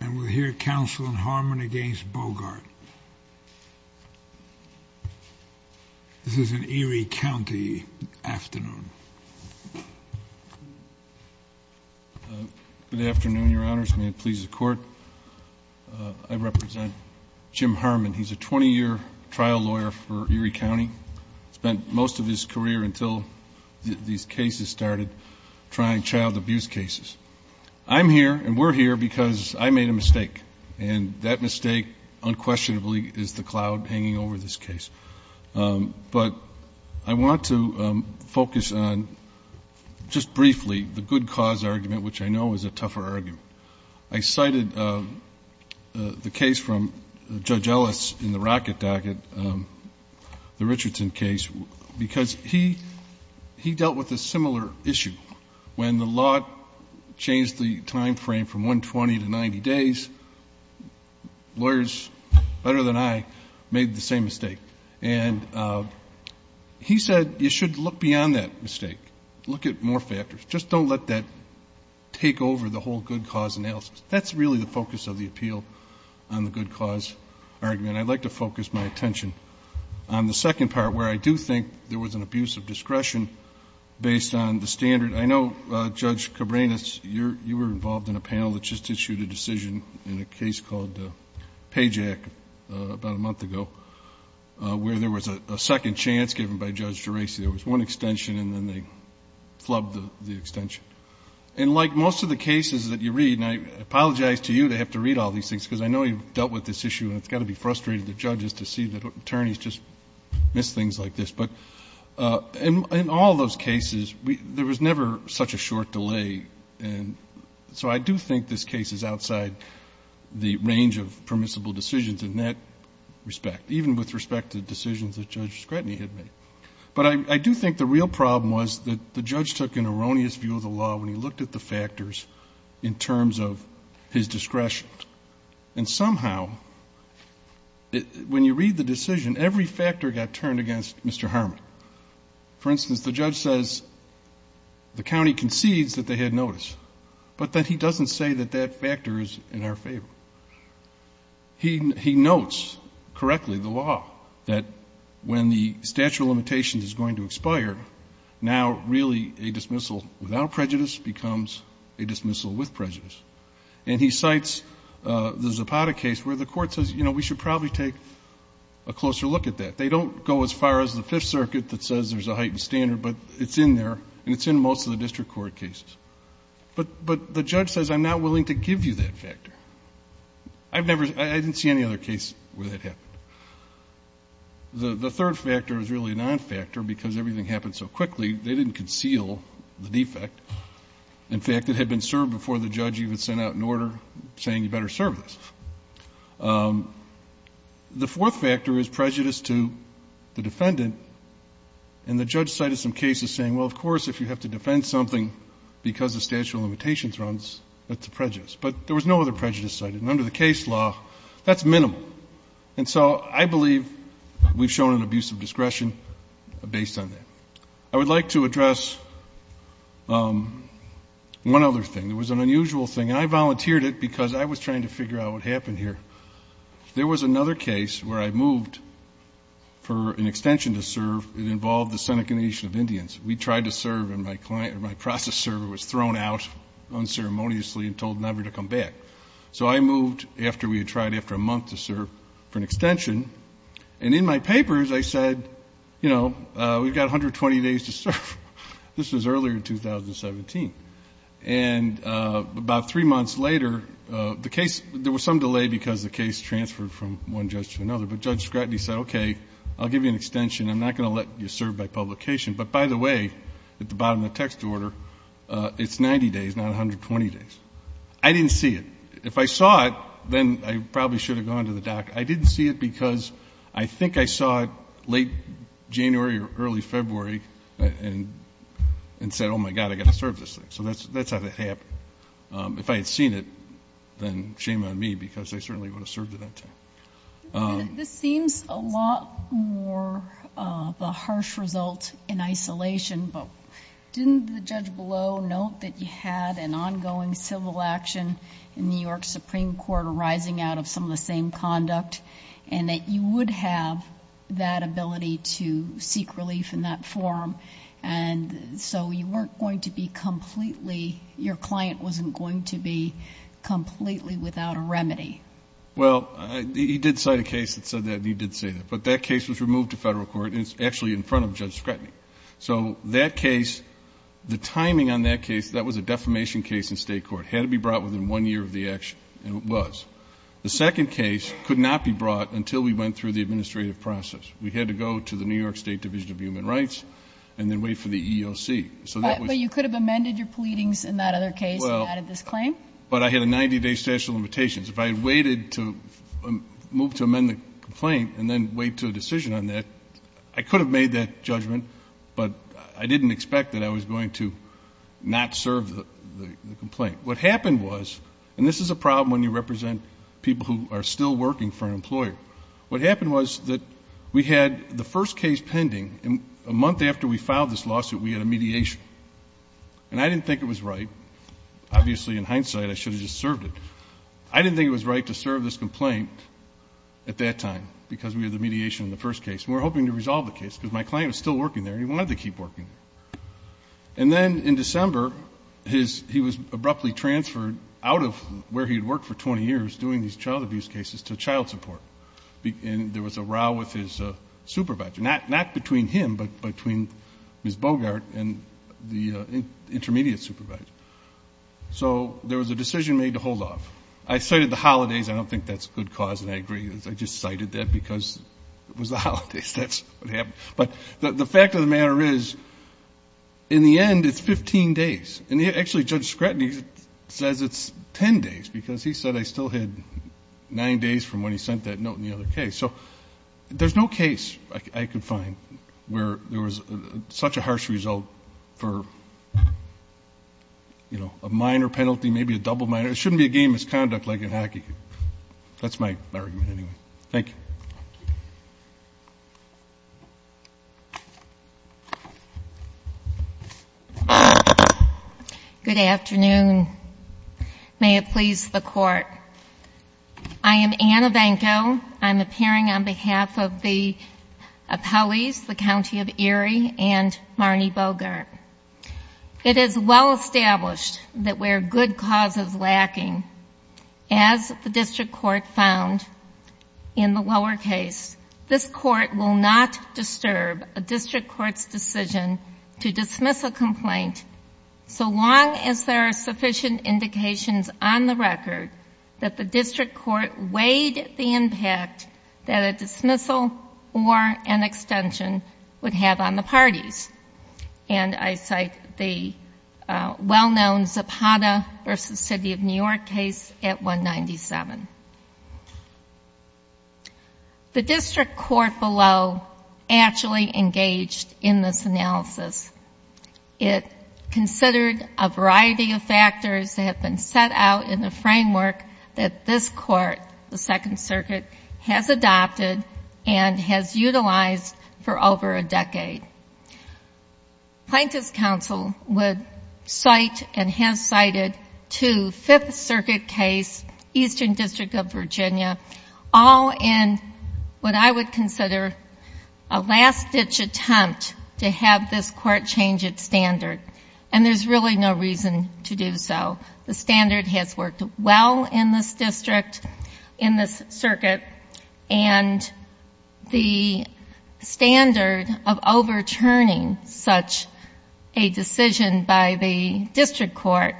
and we'll hear counsel and Harmon against Bogart. This is an Erie County afternoon. Good afternoon, Your Honors, and may it please the Court. I represent Jim Harmon. He's a 20-year trial lawyer for Erie County, spent most of his career until these cases started, trying child abuse cases. I'm here and we're here because I made a mistake, and that mistake unquestionably is the cloud hanging over this case. But I want to focus on, just briefly, the good cause argument, which I know is a tougher argument. I cited the case from Judge Ellis in the Rackett-Dackett, the Richardson case, because he dealt with a similar issue. When the law changed the time frame from 120 to 90 days, lawyers better than I made the same mistake. And he said you should look beyond that mistake, look at more factors. Just don't let that take over the whole good cause analysis. That's really the focus of the appeal on the good cause argument. I'd like to focus my attention on the second part, where I do think there was an abuse of discretion based on the standard. I know, Judge Cabranes, you were involved in a panel that just issued a decision in a case called Payjack about a month ago, where there was a second chance given by Judge Geraci. There was one extension and then they flubbed the extension. And like most of the cases that you read, and I apologize to you to have to read all these things, because I know you've dealt with this issue and it's got to be frustrating to judges to see that attorneys just miss things like this. But in all those cases, there was never such a short delay. And so I do think this case is outside the range of permissible decisions in that respect, even with respect to the decisions that Judge Scretany had made. But I do think the real problem was that the judge took an erroneous view of the law when he looked at the factors in terms of his discretion. And somehow, when you read the decision, every factor got turned against Mr. Harmon. For instance, the judge says the county concedes that they had notice, but that he doesn't say that that factor is in our favor. He notes correctly the law, that when the statute of limitations is going to expire, now really a dismissal without prejudice becomes a dismissal with prejudice. And he cites the Zapata case where the court says, you know, we should probably take a closer look at that. They don't go as far as the Fifth Circuit that says there's a heightened standard, but it's in there and it's in most of the district court cases. But the judge says, I'm not willing to give you that factor. I've never – I didn't see any other case where that happened. The third factor is really a non-factor because everything happened so quickly. They didn't conceal the defect. In fact, it had been served before the judge even sent out an order saying you better serve this. The fourth factor is prejudice to the defendant. And the judge cited some cases saying, well, of course, if you have to defend something because the statute of limitations runs, that's a prejudice. But there was no other prejudice cited. And under the case law, that's minimal. And so I believe we've shown an abuse of discretion based on that. I would like to address one other thing. It was an unusual thing. And I volunteered it because I was trying to figure out what happened here. There was another case where I moved for an extension to serve. It involved the Seneca Nation of Indians. We tried to serve and my process server was thrown out unceremoniously and told never to come back. So I moved after we had tried after a month to serve for an extension. And in my papers, I said, you know, we've got 120 days to serve. This was earlier in 2017. And about three months later, the case, there was some delay because the case transferred from one judge to another. But Judge Scratton, he said, okay, I'll give you an extension. I'm not going to let you serve by publication. But by the way, at the bottom of the text order, it's 90 days, not 120 days. I didn't see it. If I saw it, then I probably should have gone to the doc. I didn't see it because I think I saw it late January or early February and said, oh, my God, I've got to serve this thing. So that's how that happened. If I had seen it, then shame on me because I certainly would have served it that time. This seems a lot more of a harsh result in isolation. But didn't the judge below note that you had an ongoing civil action in New York Supreme Court arising out of some of the same conduct and that you would have that ability to seek relief in that forum? And so you weren't going to be completely, your client wasn't going to be completely without a remedy. Well, he did cite a case that said that, and he did say that. But that case was removed to Federal court, and it's actually in front of Judge Scratton. So that case, the timing on that case, that was a defamation case in State court. It had to be brought within one year of the action, and it was. The second case could not be brought until we went through the administrative process. We had to go to the New York State Division of Human Rights and then wait for the EEOC. So that was the case. But you could have amended your pleadings in that other case and added this claim? Well, but I had a 90-day statute of limitations. If I had waited to move to amend the complaint and then wait to a decision on that, I could have made that judgment, but I didn't expect that I was going to not serve the complaint. What happened was, and this is a problem when you represent people who are still working for an employer. What happened was that we had the first case pending, and a month after we filed this lawsuit, we had a mediation. And I didn't think it was right. Obviously, in hindsight, I should have just served it. But I didn't think it was right to serve this complaint at that time because we had the mediation in the first case. And we were hoping to resolve the case because my client was still working there and he wanted to keep working there. And then in December, he was abruptly transferred out of where he had worked for 20 years doing these child abuse cases to child support. And there was a row with his supervisor, not between him but between Ms. Bogart and the intermediate supervisor. So there was a decision made to hold off. I cited the holidays. I don't think that's a good cause, and I agree. I just cited that because it was the holidays. That's what happened. But the fact of the matter is, in the end, it's 15 days. And actually, Judge Scratton, he says it's 10 days because he said I still had nine days from when he sent that note in the other case. So there's no case I could find where there was such a harsh result for, you know, a minor penalty, maybe a double minor. It shouldn't be a game misconduct like in hockey. That's my argument anyway. Thank you. Good afternoon. May it please the Court. I am Anna Vanko. I'm appearing on behalf of the appellees, the County of Erie and Marnie Bogart. It is well established that where good cause is lacking, as the district court found in the lower case, this court will not disturb a district court's decision to dismiss a complaint so long as there are sufficient indications on the record that the district court weighed the impact that a dismissal or an extension would have on the parties. And I cite the well-known Zapata v. City of New York case at 197. The district court below actually engaged in this analysis. It considered a variety of factors that have been set out in the framework that this court, the Second Circuit, has adopted and has utilized for over a decade. Plaintiff's counsel would cite and has cited two Fifth Circuit case, Eastern District of Virginia, all in what I would consider a last-ditch attempt to have this court change its standard. And there's really no reason to do so. The standard has worked well in this district, in this circuit, and the standard of overturning such a decision by the district court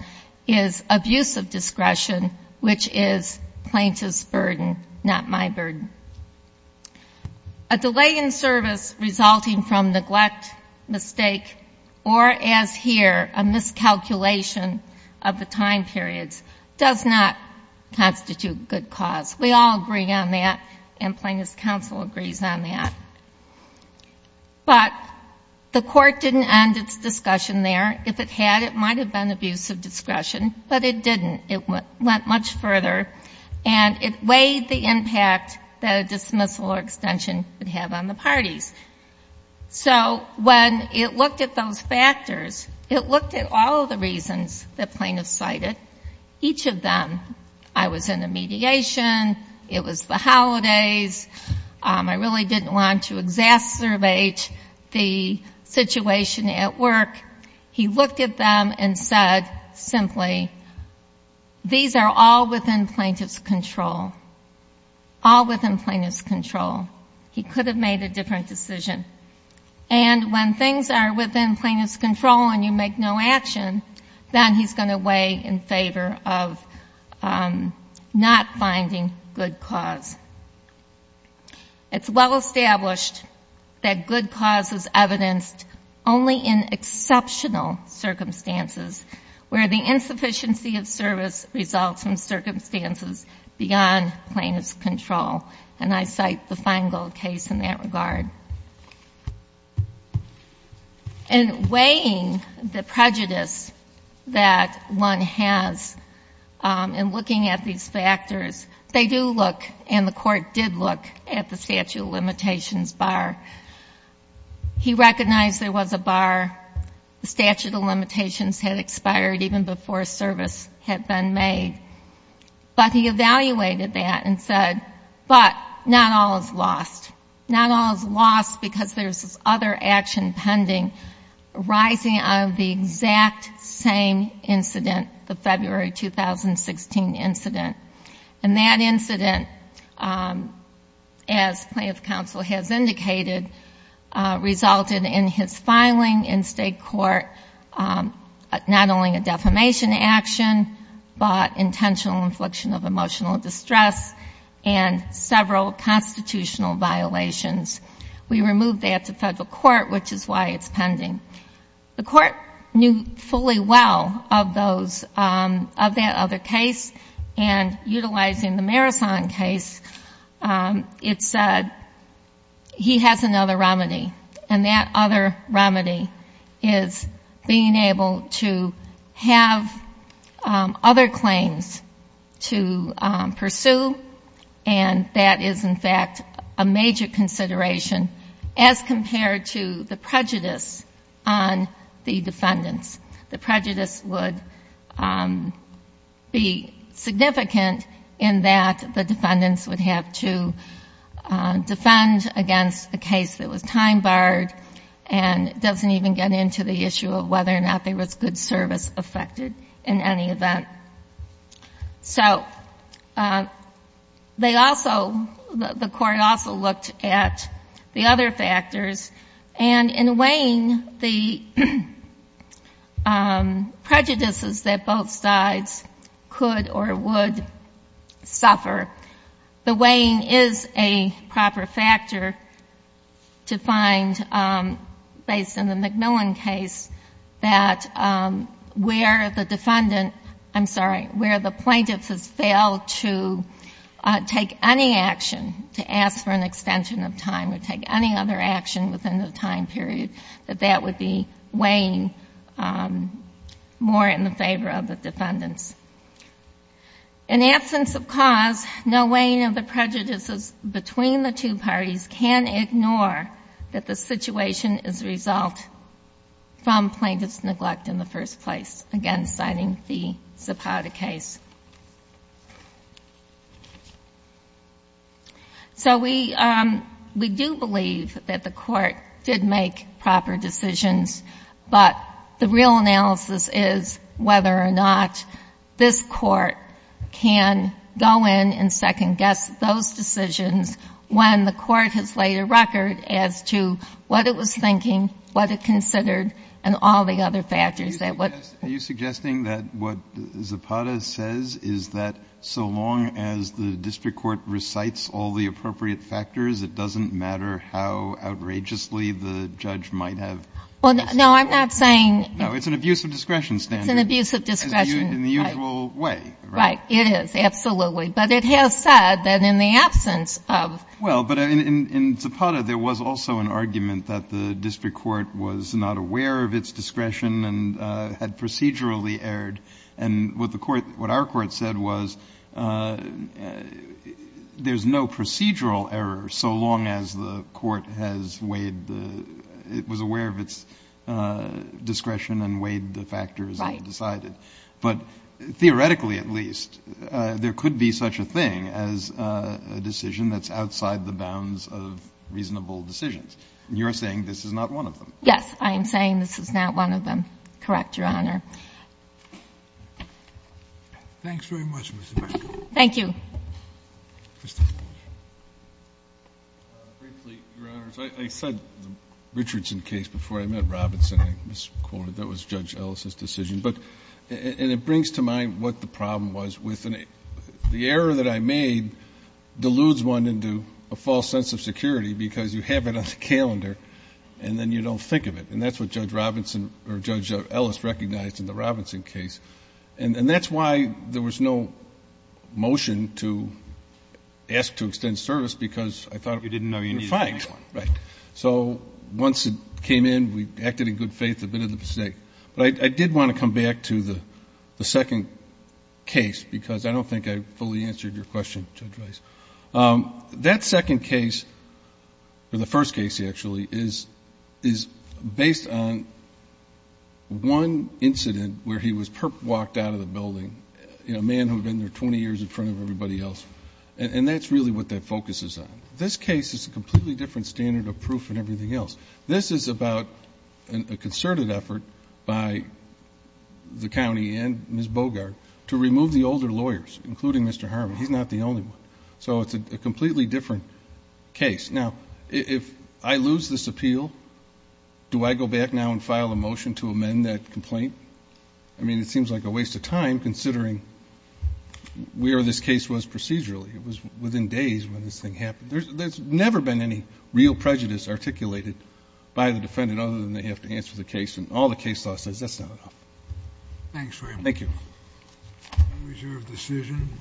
is abusive discretion, which is plaintiff's burden, not my burden. A delay in service resulting from neglect, mistake, or, as here, a miscalculation of the time periods, does not constitute good cause. We all agree on that, and plaintiff's counsel agrees on that. But the court didn't end its discussion there. If it had, it might have been abusive discretion, but it didn't. It went much further, and it weighed the impact that a dismissal or extension would have on the parties. So when it looked at those factors, it looked at all of the reasons that plaintiffs cited, each of them. I was in the mediation. It was the holidays. I really didn't want to exacerbate the situation at work. He looked at them and said simply, these are all within plaintiff's control, all within plaintiff's control. He could have made a different decision. And when things are within plaintiff's control and you make no action, then he's going to weigh in favor of not finding good cause. It's well established that good cause is evidenced only in exceptional circumstances, where the insufficiency of service results from circumstances beyond plaintiff's control. And I cite the Feingold case in that regard. In weighing the prejudice that one has in looking at these factors, they do look, and the court did look, at the statute of limitations bar. He recognized there was a bar. The statute of limitations had expired even before service had been made. But he evaluated that and said, but not all is lost. Not all is lost because there's this other action pending arising out of the exact same incident, the February 2016 incident. And that incident, as plaintiff counsel has indicated, resulted in his filing in state court, not only a defamation action, but intentional infliction of emotional distress and several constitutional violations. We removed that to federal court, which is why it's pending. The court knew fully well of that other case. And utilizing the Marison case, it said he has another remedy. And that other remedy is being able to have other claims to pursue. And that is, in fact, a major consideration as compared to the prejudice on the defendants. The prejudice would be significant in that the defendants would have to defend against a case that was time-barred and doesn't even get into the issue of whether or not there was good service affected in any event. So they also, the court also looked at the other factors. And in weighing the prejudices that both sides could or would suffer, the weighing is a proper factor to find, based on the McMillan case, that where the defendant ‑‑ I'm sorry, where the plaintiff has failed to take any action to ask for an extension of time or take any other action within the time period, that that would be weighing more in the favor of the defendants. In absence of cause, no weighing of the prejudices between the two parties can ignore that the situation is the result from plaintiff's neglect in the first place, again, citing the Zapata case. So we do believe that the court did make proper decisions, but the real analysis is whether or not this court can go in and second-guess those decisions when the court has laid a record as to what it was thinking, what it considered, and all the other factors that would ‑‑ Are you suggesting that what Zapata says is that so long as the district court recites all the appropriate factors, it doesn't matter how outrageously the judge might have ‑‑ No, I'm not saying ‑‑ No, it's an abuse of discretion standard. It's an abuse of discretion. In the usual way. Right. It is, absolutely. But it has said that in the absence of ‑‑ Well, but in Zapata, there was also an argument that the district court was not aware of its discretion and had procedurally erred. And what the court ‑‑ what our court said was there's no procedural error so long as the court has weighed the ‑‑ it was aware of its discretion and weighed the factors that it decided. Right. But theoretically at least, there could be such a thing as a decision that's outside the bounds of reasonable decisions. And you're saying this is not one of them. Yes. I am saying this is not one of them. Correct, Your Honor. Thanks very much, Ms. Emanuel. Thank you. Justice Breyer. Briefly, Your Honors, I said the Richardson case before I met Robinson. I misquoted. That was Judge Ellis's decision. But ‑‑ and it brings to mind what the problem was with ‑‑ the error that I made deludes one into a false sense of security because you have it on the calendar and then you don't think of it. And that's what Judge Robinson or Judge Ellis recognized in the Robinson case. And that's why there was no motion to ask to extend service because I thought ‑‑ You didn't know you needed the next one. Right. So once it came in, we acted in good faith, admitted the mistake. But I did want to come back to the second case because I don't think I fully answered your question, Judge Rice. That second case, or the first case actually, is based on one incident where he was perp walked out of the building, a man who had been there 20 years in front of everybody else. And that's really what that focuses on. This case is a completely different standard of proof than everything else. This is about a concerted effort by the county and Ms. Bogart to remove the older lawyers, including Mr. Harmon. He's not the only one. So it's a completely different case. Now, if I lose this appeal, do I go back now and file a motion to amend that complaint? I mean, it seems like a waste of time considering where this case was procedurally. It was within days when this thing happened. There's never been any real prejudice articulated by the defendant other than they have to answer the case. And all the case law says that's not enough. Thanks for your time. Thank you. We reserve decision.